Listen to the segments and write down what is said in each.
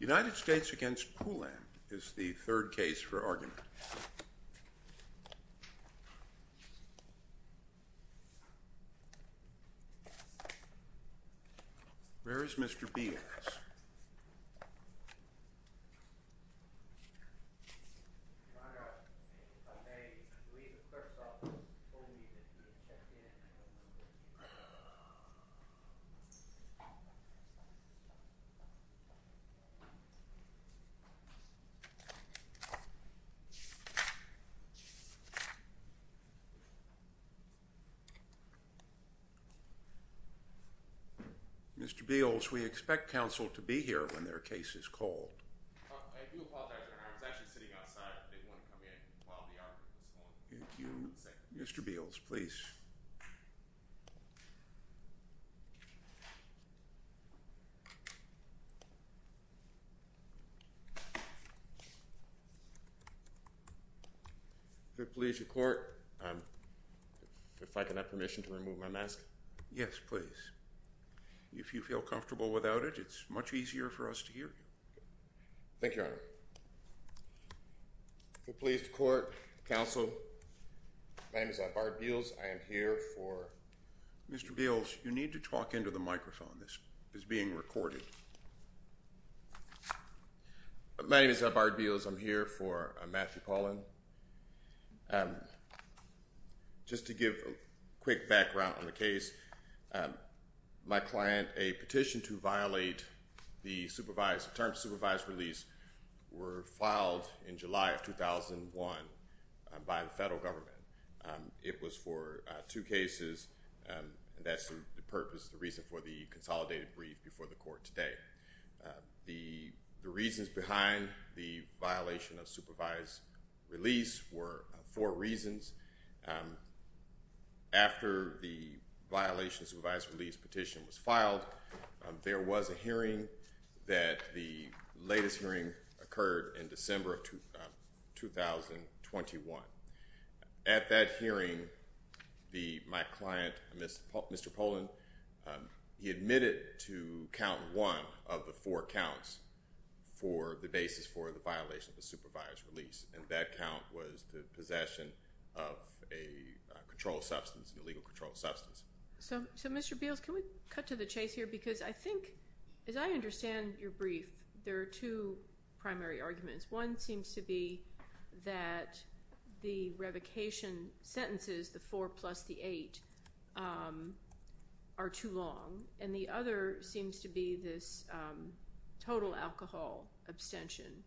United States v. Poulin is the third case for argument. Where is Mr. Bias? Mr. Beals, we expect counsel to be here when their case is called. Mr. Beals, please. If I could have permission to remove my mask? Yes, please. If you feel comfortable without it, it's much easier for us to hear you. Thank you, Your Honor. If you're pleased to court, counsel. My name is Bart Beals. I am here for... Mr. Beals, you need to talk into the microphone. It's being recorded. My name is Bart Beals. I'm here for Matthew Poulin. Just to give a quick background on the case, my client, a petition to violate the term supervised release were filed in July of 2001 by the federal government. It was for two cases. That's the purpose, the reason for the consolidated brief before the court today. The reasons behind the violation of supervised release were four reasons. After the violation of supervised release petition was filed, there was a hearing that the latest hearing occurred in December of 2021. At that hearing, my client, Mr. Poulin, he admitted to count one of the four counts for the basis for the violation of the supervised release, and that count was the possession of a controlled substance, an illegal controlled substance. So, Mr. Beals, can we cut to the chase here? Because I think, as I understand your brief, there are two primary arguments. One seems to be that the revocation sentences, the four plus the eight, are too long. And the other seems to be this total alcohol abstention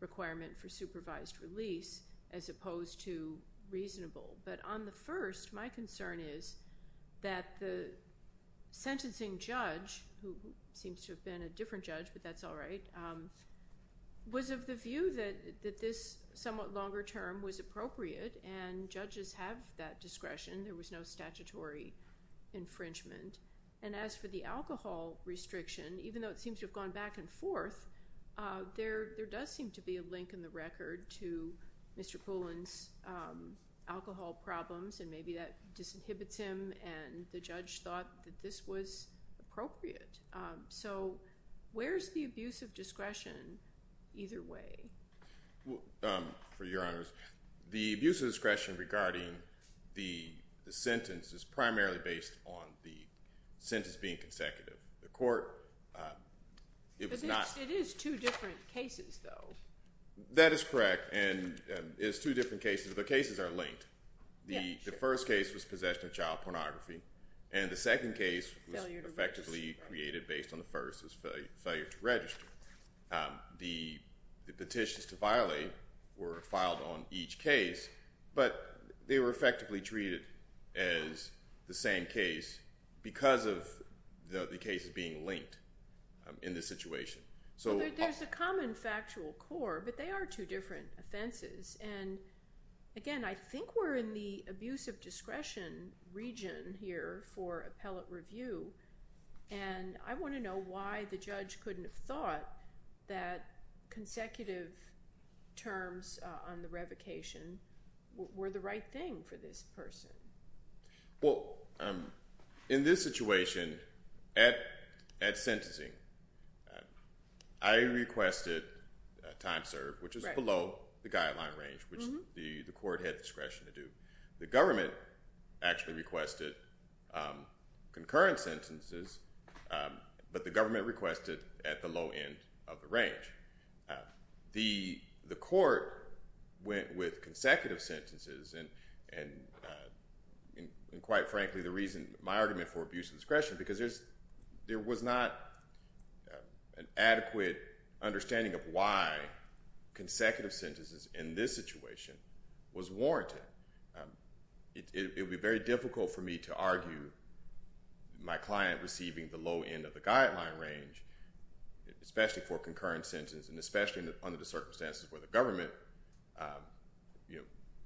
requirement for supervised release as opposed to reasonable. But on the first, my concern is that the sentencing judge, who seems to have been a different judge, but that's all right, was of the view that this somewhat longer term was appropriate and judges have that discretion. There was no statutory infringement. And as for the alcohol restriction, even though it seems to have gone back and forth, there does seem to be a link in the record to Mr. Poulin's alcohol problems, and maybe that disinhibits him. And the judge thought that this was appropriate. So where's the abuse of discretion either way? For your honors, the abuse of discretion regarding the sentence is primarily based on the sentence being consecutive. The court, it was not- It is two different cases, though. That is correct, and it is two different cases, but the cases are linked. The first case was possession of child pornography, and the second case was effectively created based on the first as failure to register. The petitions to violate were filed on each case, but they were effectively treated as the same case because of the cases being linked in this situation. There's a common factual core, but they are two different offenses. And again, I think we're in the abuse of discretion region here for appellate review, and I want to know why the judge couldn't have thought that consecutive terms on the revocation were the right thing for this person. Well, in this situation, at sentencing, I requested time served, which is below the guideline range, which the court had discretion to do. The government actually requested concurrent sentences, but the government requested at the low end of the range. The court went with consecutive sentences, and quite frankly, the reason my argument for abuse of discretion, because there was not an adequate understanding of why consecutive sentences in this situation was warranted. It would be very difficult for me to argue my client receiving the low end of the guideline range, especially for concurrent sentences and especially under the circumstances where the government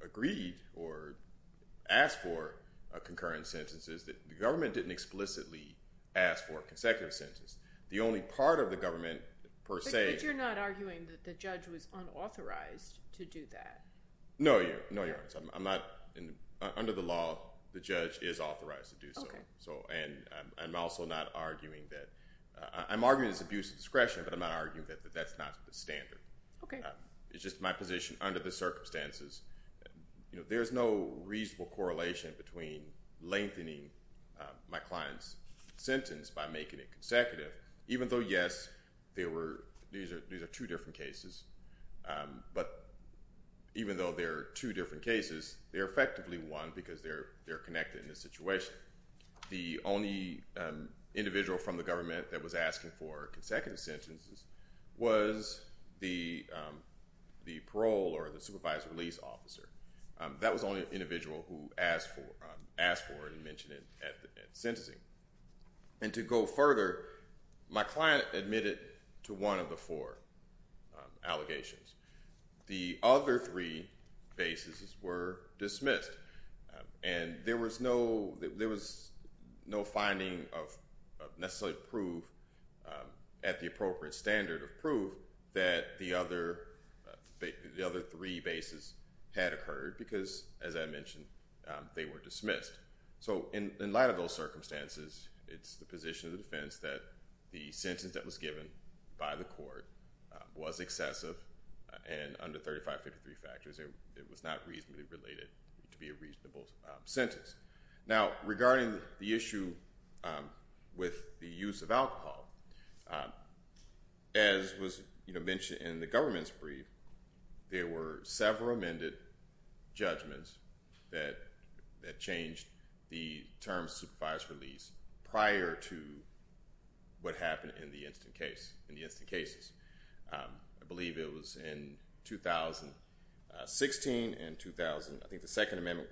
agreed or asked for concurrent sentences. The government didn't explicitly ask for consecutive sentences. The only part of the government, per se— But you're not arguing that the judge was unauthorized to do that. No, Your Honor. I'm not. Under the law, the judge is authorized to do so. Okay. And I'm also not arguing that—I'm arguing it's abuse of discretion, but I'm not arguing that that's not the standard. Okay. It's just my position under the circumstances. There's no reasonable correlation between lengthening my client's sentence by making it consecutive, and even though, yes, these are two different cases, but even though they're two different cases, they're effectively one because they're connected in this situation. The only individual from the government that was asking for consecutive sentences was the parole or the supervised release officer. That was the only individual who asked for it and mentioned it at sentencing. And to go further, my client admitted to one of the four allegations. The other three bases were dismissed, and there was no finding of necessary proof at the appropriate standard of proof that the other three bases had occurred because, as I mentioned, they were dismissed. So in light of those circumstances, it's the position of the defense that the sentence that was given by the court was excessive, and under 3553 factors, it was not reasonably related to be a reasonable sentence. Now, regarding the issue with the use of alcohol, as was mentioned in the government's brief, there were several amended judgments that changed the term supervised release prior to what happened in the instant case, in the instant cases. I believe it was in 2016 and 2000. I think the Second Amendment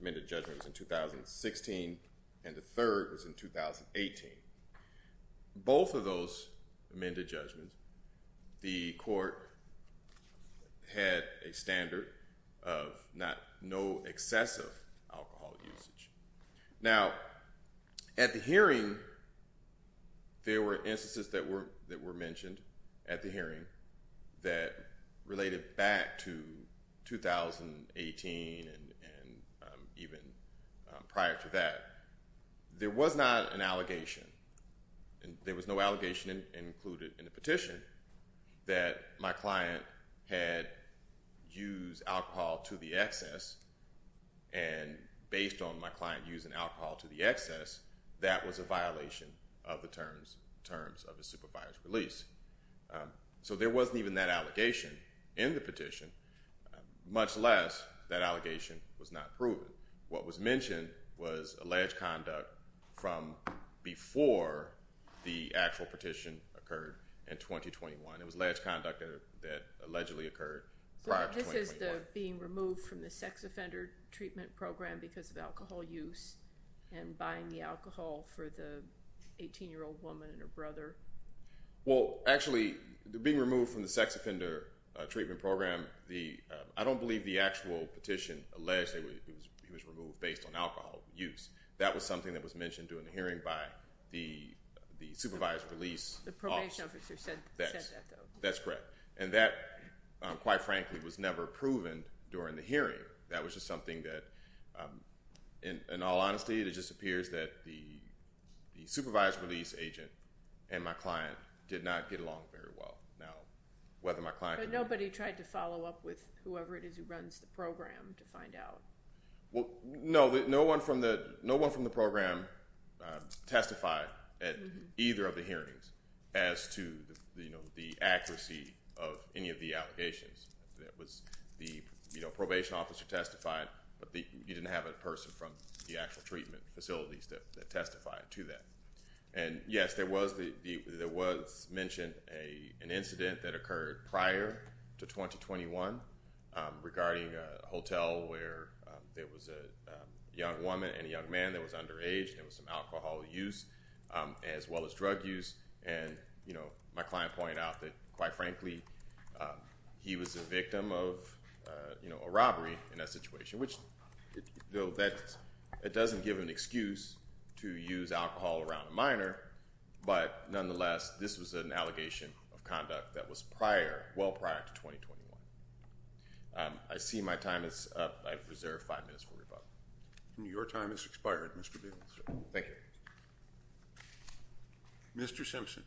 amendment judgment was in 2016, and the third was in 2018. Both of those amended judgments, the court had a standard of no excessive alcohol usage. Now, at the hearing, there were instances that were mentioned at the hearing that related back to 2018 and even prior to that. There was not an allegation. There was no allegation included in the petition that my client had used alcohol to the excess, and based on my client using alcohol to the excess, that was a violation of the terms of the supervised release. So there wasn't even that allegation in the petition, much less that allegation was not proven. What was mentioned was alleged conduct from before the actual petition occurred in 2021. It was alleged conduct that allegedly occurred prior to 2021. So this is the being removed from the sex offender treatment program because of alcohol use and buying the alcohol for the 18-year-old woman and her brother? Well, actually, being removed from the sex offender treatment program, I don't believe the actual petition alleged that he was removed based on alcohol use. That was something that was mentioned during the hearing by the supervised release officer. The probation officer said that, though. That's correct. And that, quite frankly, was never proven during the hearing. That was just something that, in all honesty, it just appears that the supervised release agent and my client did not get along very well. But nobody tried to follow up with whoever it is who runs the program to find out? No, no one from the program testified at either of the hearings as to the accuracy of any of the allegations. The probation officer testified, but you didn't have a person from the actual treatment facilities that testified to that. And, yes, there was mentioned an incident that occurred prior to 2021 regarding a hotel where there was a young woman and a young man that was underage. There was some alcohol use as well as drug use. And my client pointed out that, quite frankly, he was a victim of a robbery in that situation. Which, though, that doesn't give an excuse to use alcohol around a minor. But, nonetheless, this was an allegation of conduct that was prior, well prior to 2021. I see my time is up. I have reserved five minutes for rebuttal. Your time has expired, Mr. Bailenson. Thank you. Mr. Simpson.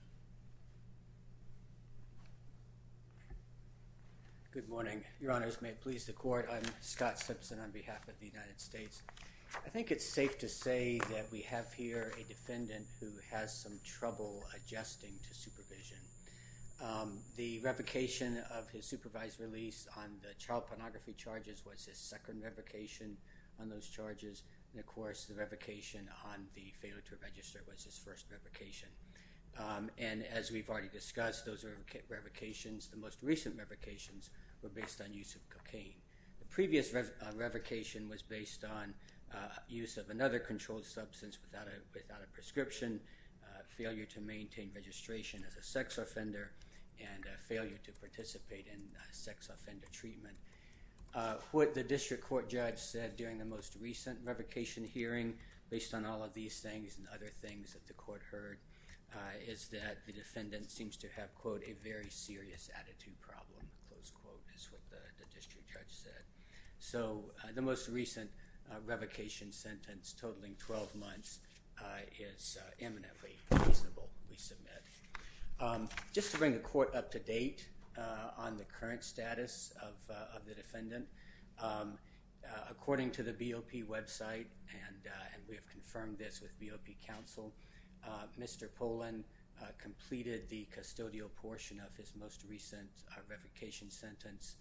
Good morning. Your honors, may it please the court. I'm Scott Simpson on behalf of the United States. I think it's safe to say that we have here a defendant who has some trouble adjusting to supervision. The revocation of his supervised release on the child pornography charges was his second revocation on those charges. And, of course, the revocation on the failure to register was his first revocation. And, as we've already discussed, those are revocations. The most recent revocations were based on use of cocaine. The previous revocation was based on use of another controlled substance without a prescription, failure to maintain registration as a sex offender, and failure to participate in sex offender treatment. What the district court judge said during the most recent revocation hearing, based on all of these things and other things that the court heard, is that the defendant seems to have, quote, a very serious attitude problem, close quote, is what the district judge said. So the most recent revocation sentence totaling 12 months is eminently reasonable, we submit. Just to bring the court up to date on the current status of the defendant, according to the BOP website, and we have confirmed this with BOP counsel, Mr. Pollan completed the custodial portion of his most recent revocation sentence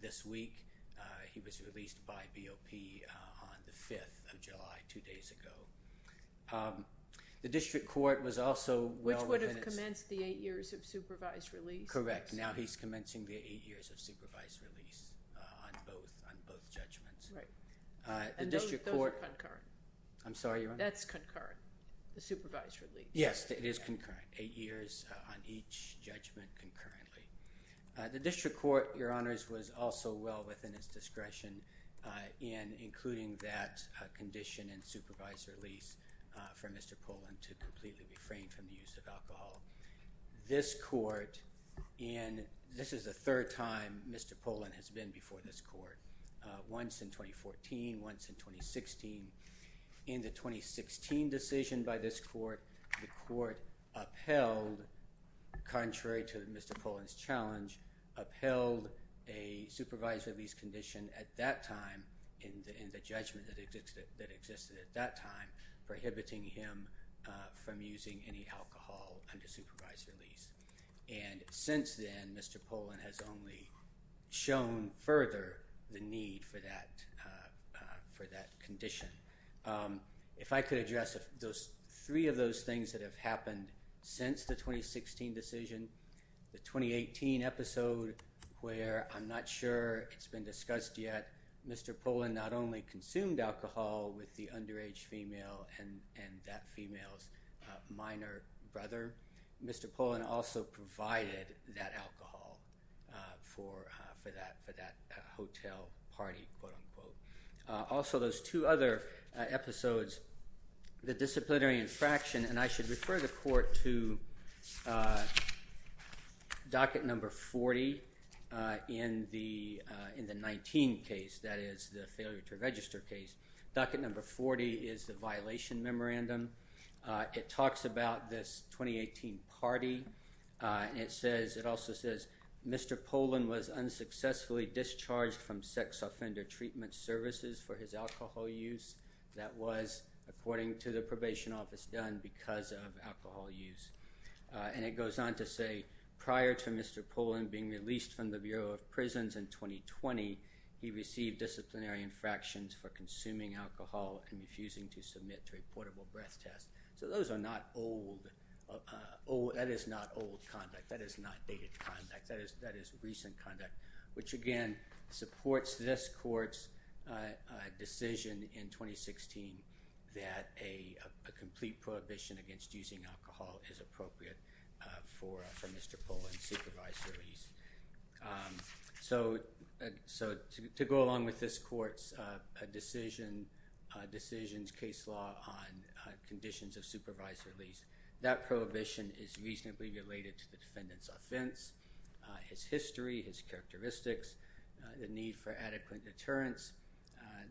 this week. He was released by BOP on the 5th of July, two days ago. The district court was also well within its- Which would have commenced the eight years of supervised release. Correct. Now he's commencing the eight years of supervised release on both judgments. Right. And those are concurrent. I'm sorry, Your Honor? That's concurrent, the supervised release. Yes, it is concurrent, eight years on each judgment concurrently. The district court, Your Honors, was also well within its discretion in including that condition in supervised release for Mr. Pollan to completely refrain from the use of alcohol. This court, and this is the third time Mr. Pollan has been before this court, once in 2014, once in 2016. In the 2016 decision by this court, the court upheld, contrary to Mr. Pollan's challenge, upheld a supervised release condition at that time in the judgment that existed at that time, prohibiting him from using any alcohol under supervised release. And since then, Mr. Pollan has only shown further the need for that condition. If I could address those three of those things that have happened since the 2016 decision, the 2018 episode where I'm not sure it's been discussed yet, Mr. Pollan not only consumed alcohol with the underage female and that female's minor brother, Mr. Pollan also provided that alcohol for that hotel party, quote, unquote. Also, those two other episodes, the disciplinary infraction, and I should refer the court to docket number 40 in the 19 case, that is the failure to register case. Docket number 40 is the violation memorandum. It talks about this 2018 party, and it says, it also says, Mr. Pollan was unsuccessfully discharged from sex offender treatment services for his alcohol use. That was, according to the probation office, done because of alcohol use. And it goes on to say, prior to Mr. Pollan being released from the Bureau of Prisons in 2020, he received disciplinary infractions for consuming alcohol and refusing to submit to a portable breath test. So those are not old. That is not old conduct. That is not dated conduct. That is recent conduct, which, again, supports this court's decision in 2016 that a complete prohibition against using alcohol is appropriate for Mr. Pollan's supervised release. So to go along with this court's decision's case law on conditions of supervised release, that prohibition is reasonably related to the defendant's offense, his history, his characteristics, the need for adequate deterrence,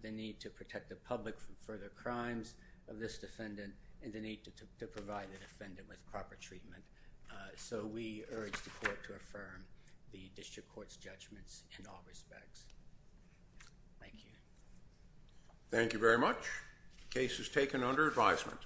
the need to protect the public from further crimes of this defendant, and the need to provide the defendant with proper treatment. So we urge the court to affirm the district court's judgments in all respects. Thank you. Thank you very much. The case is taken under advisement.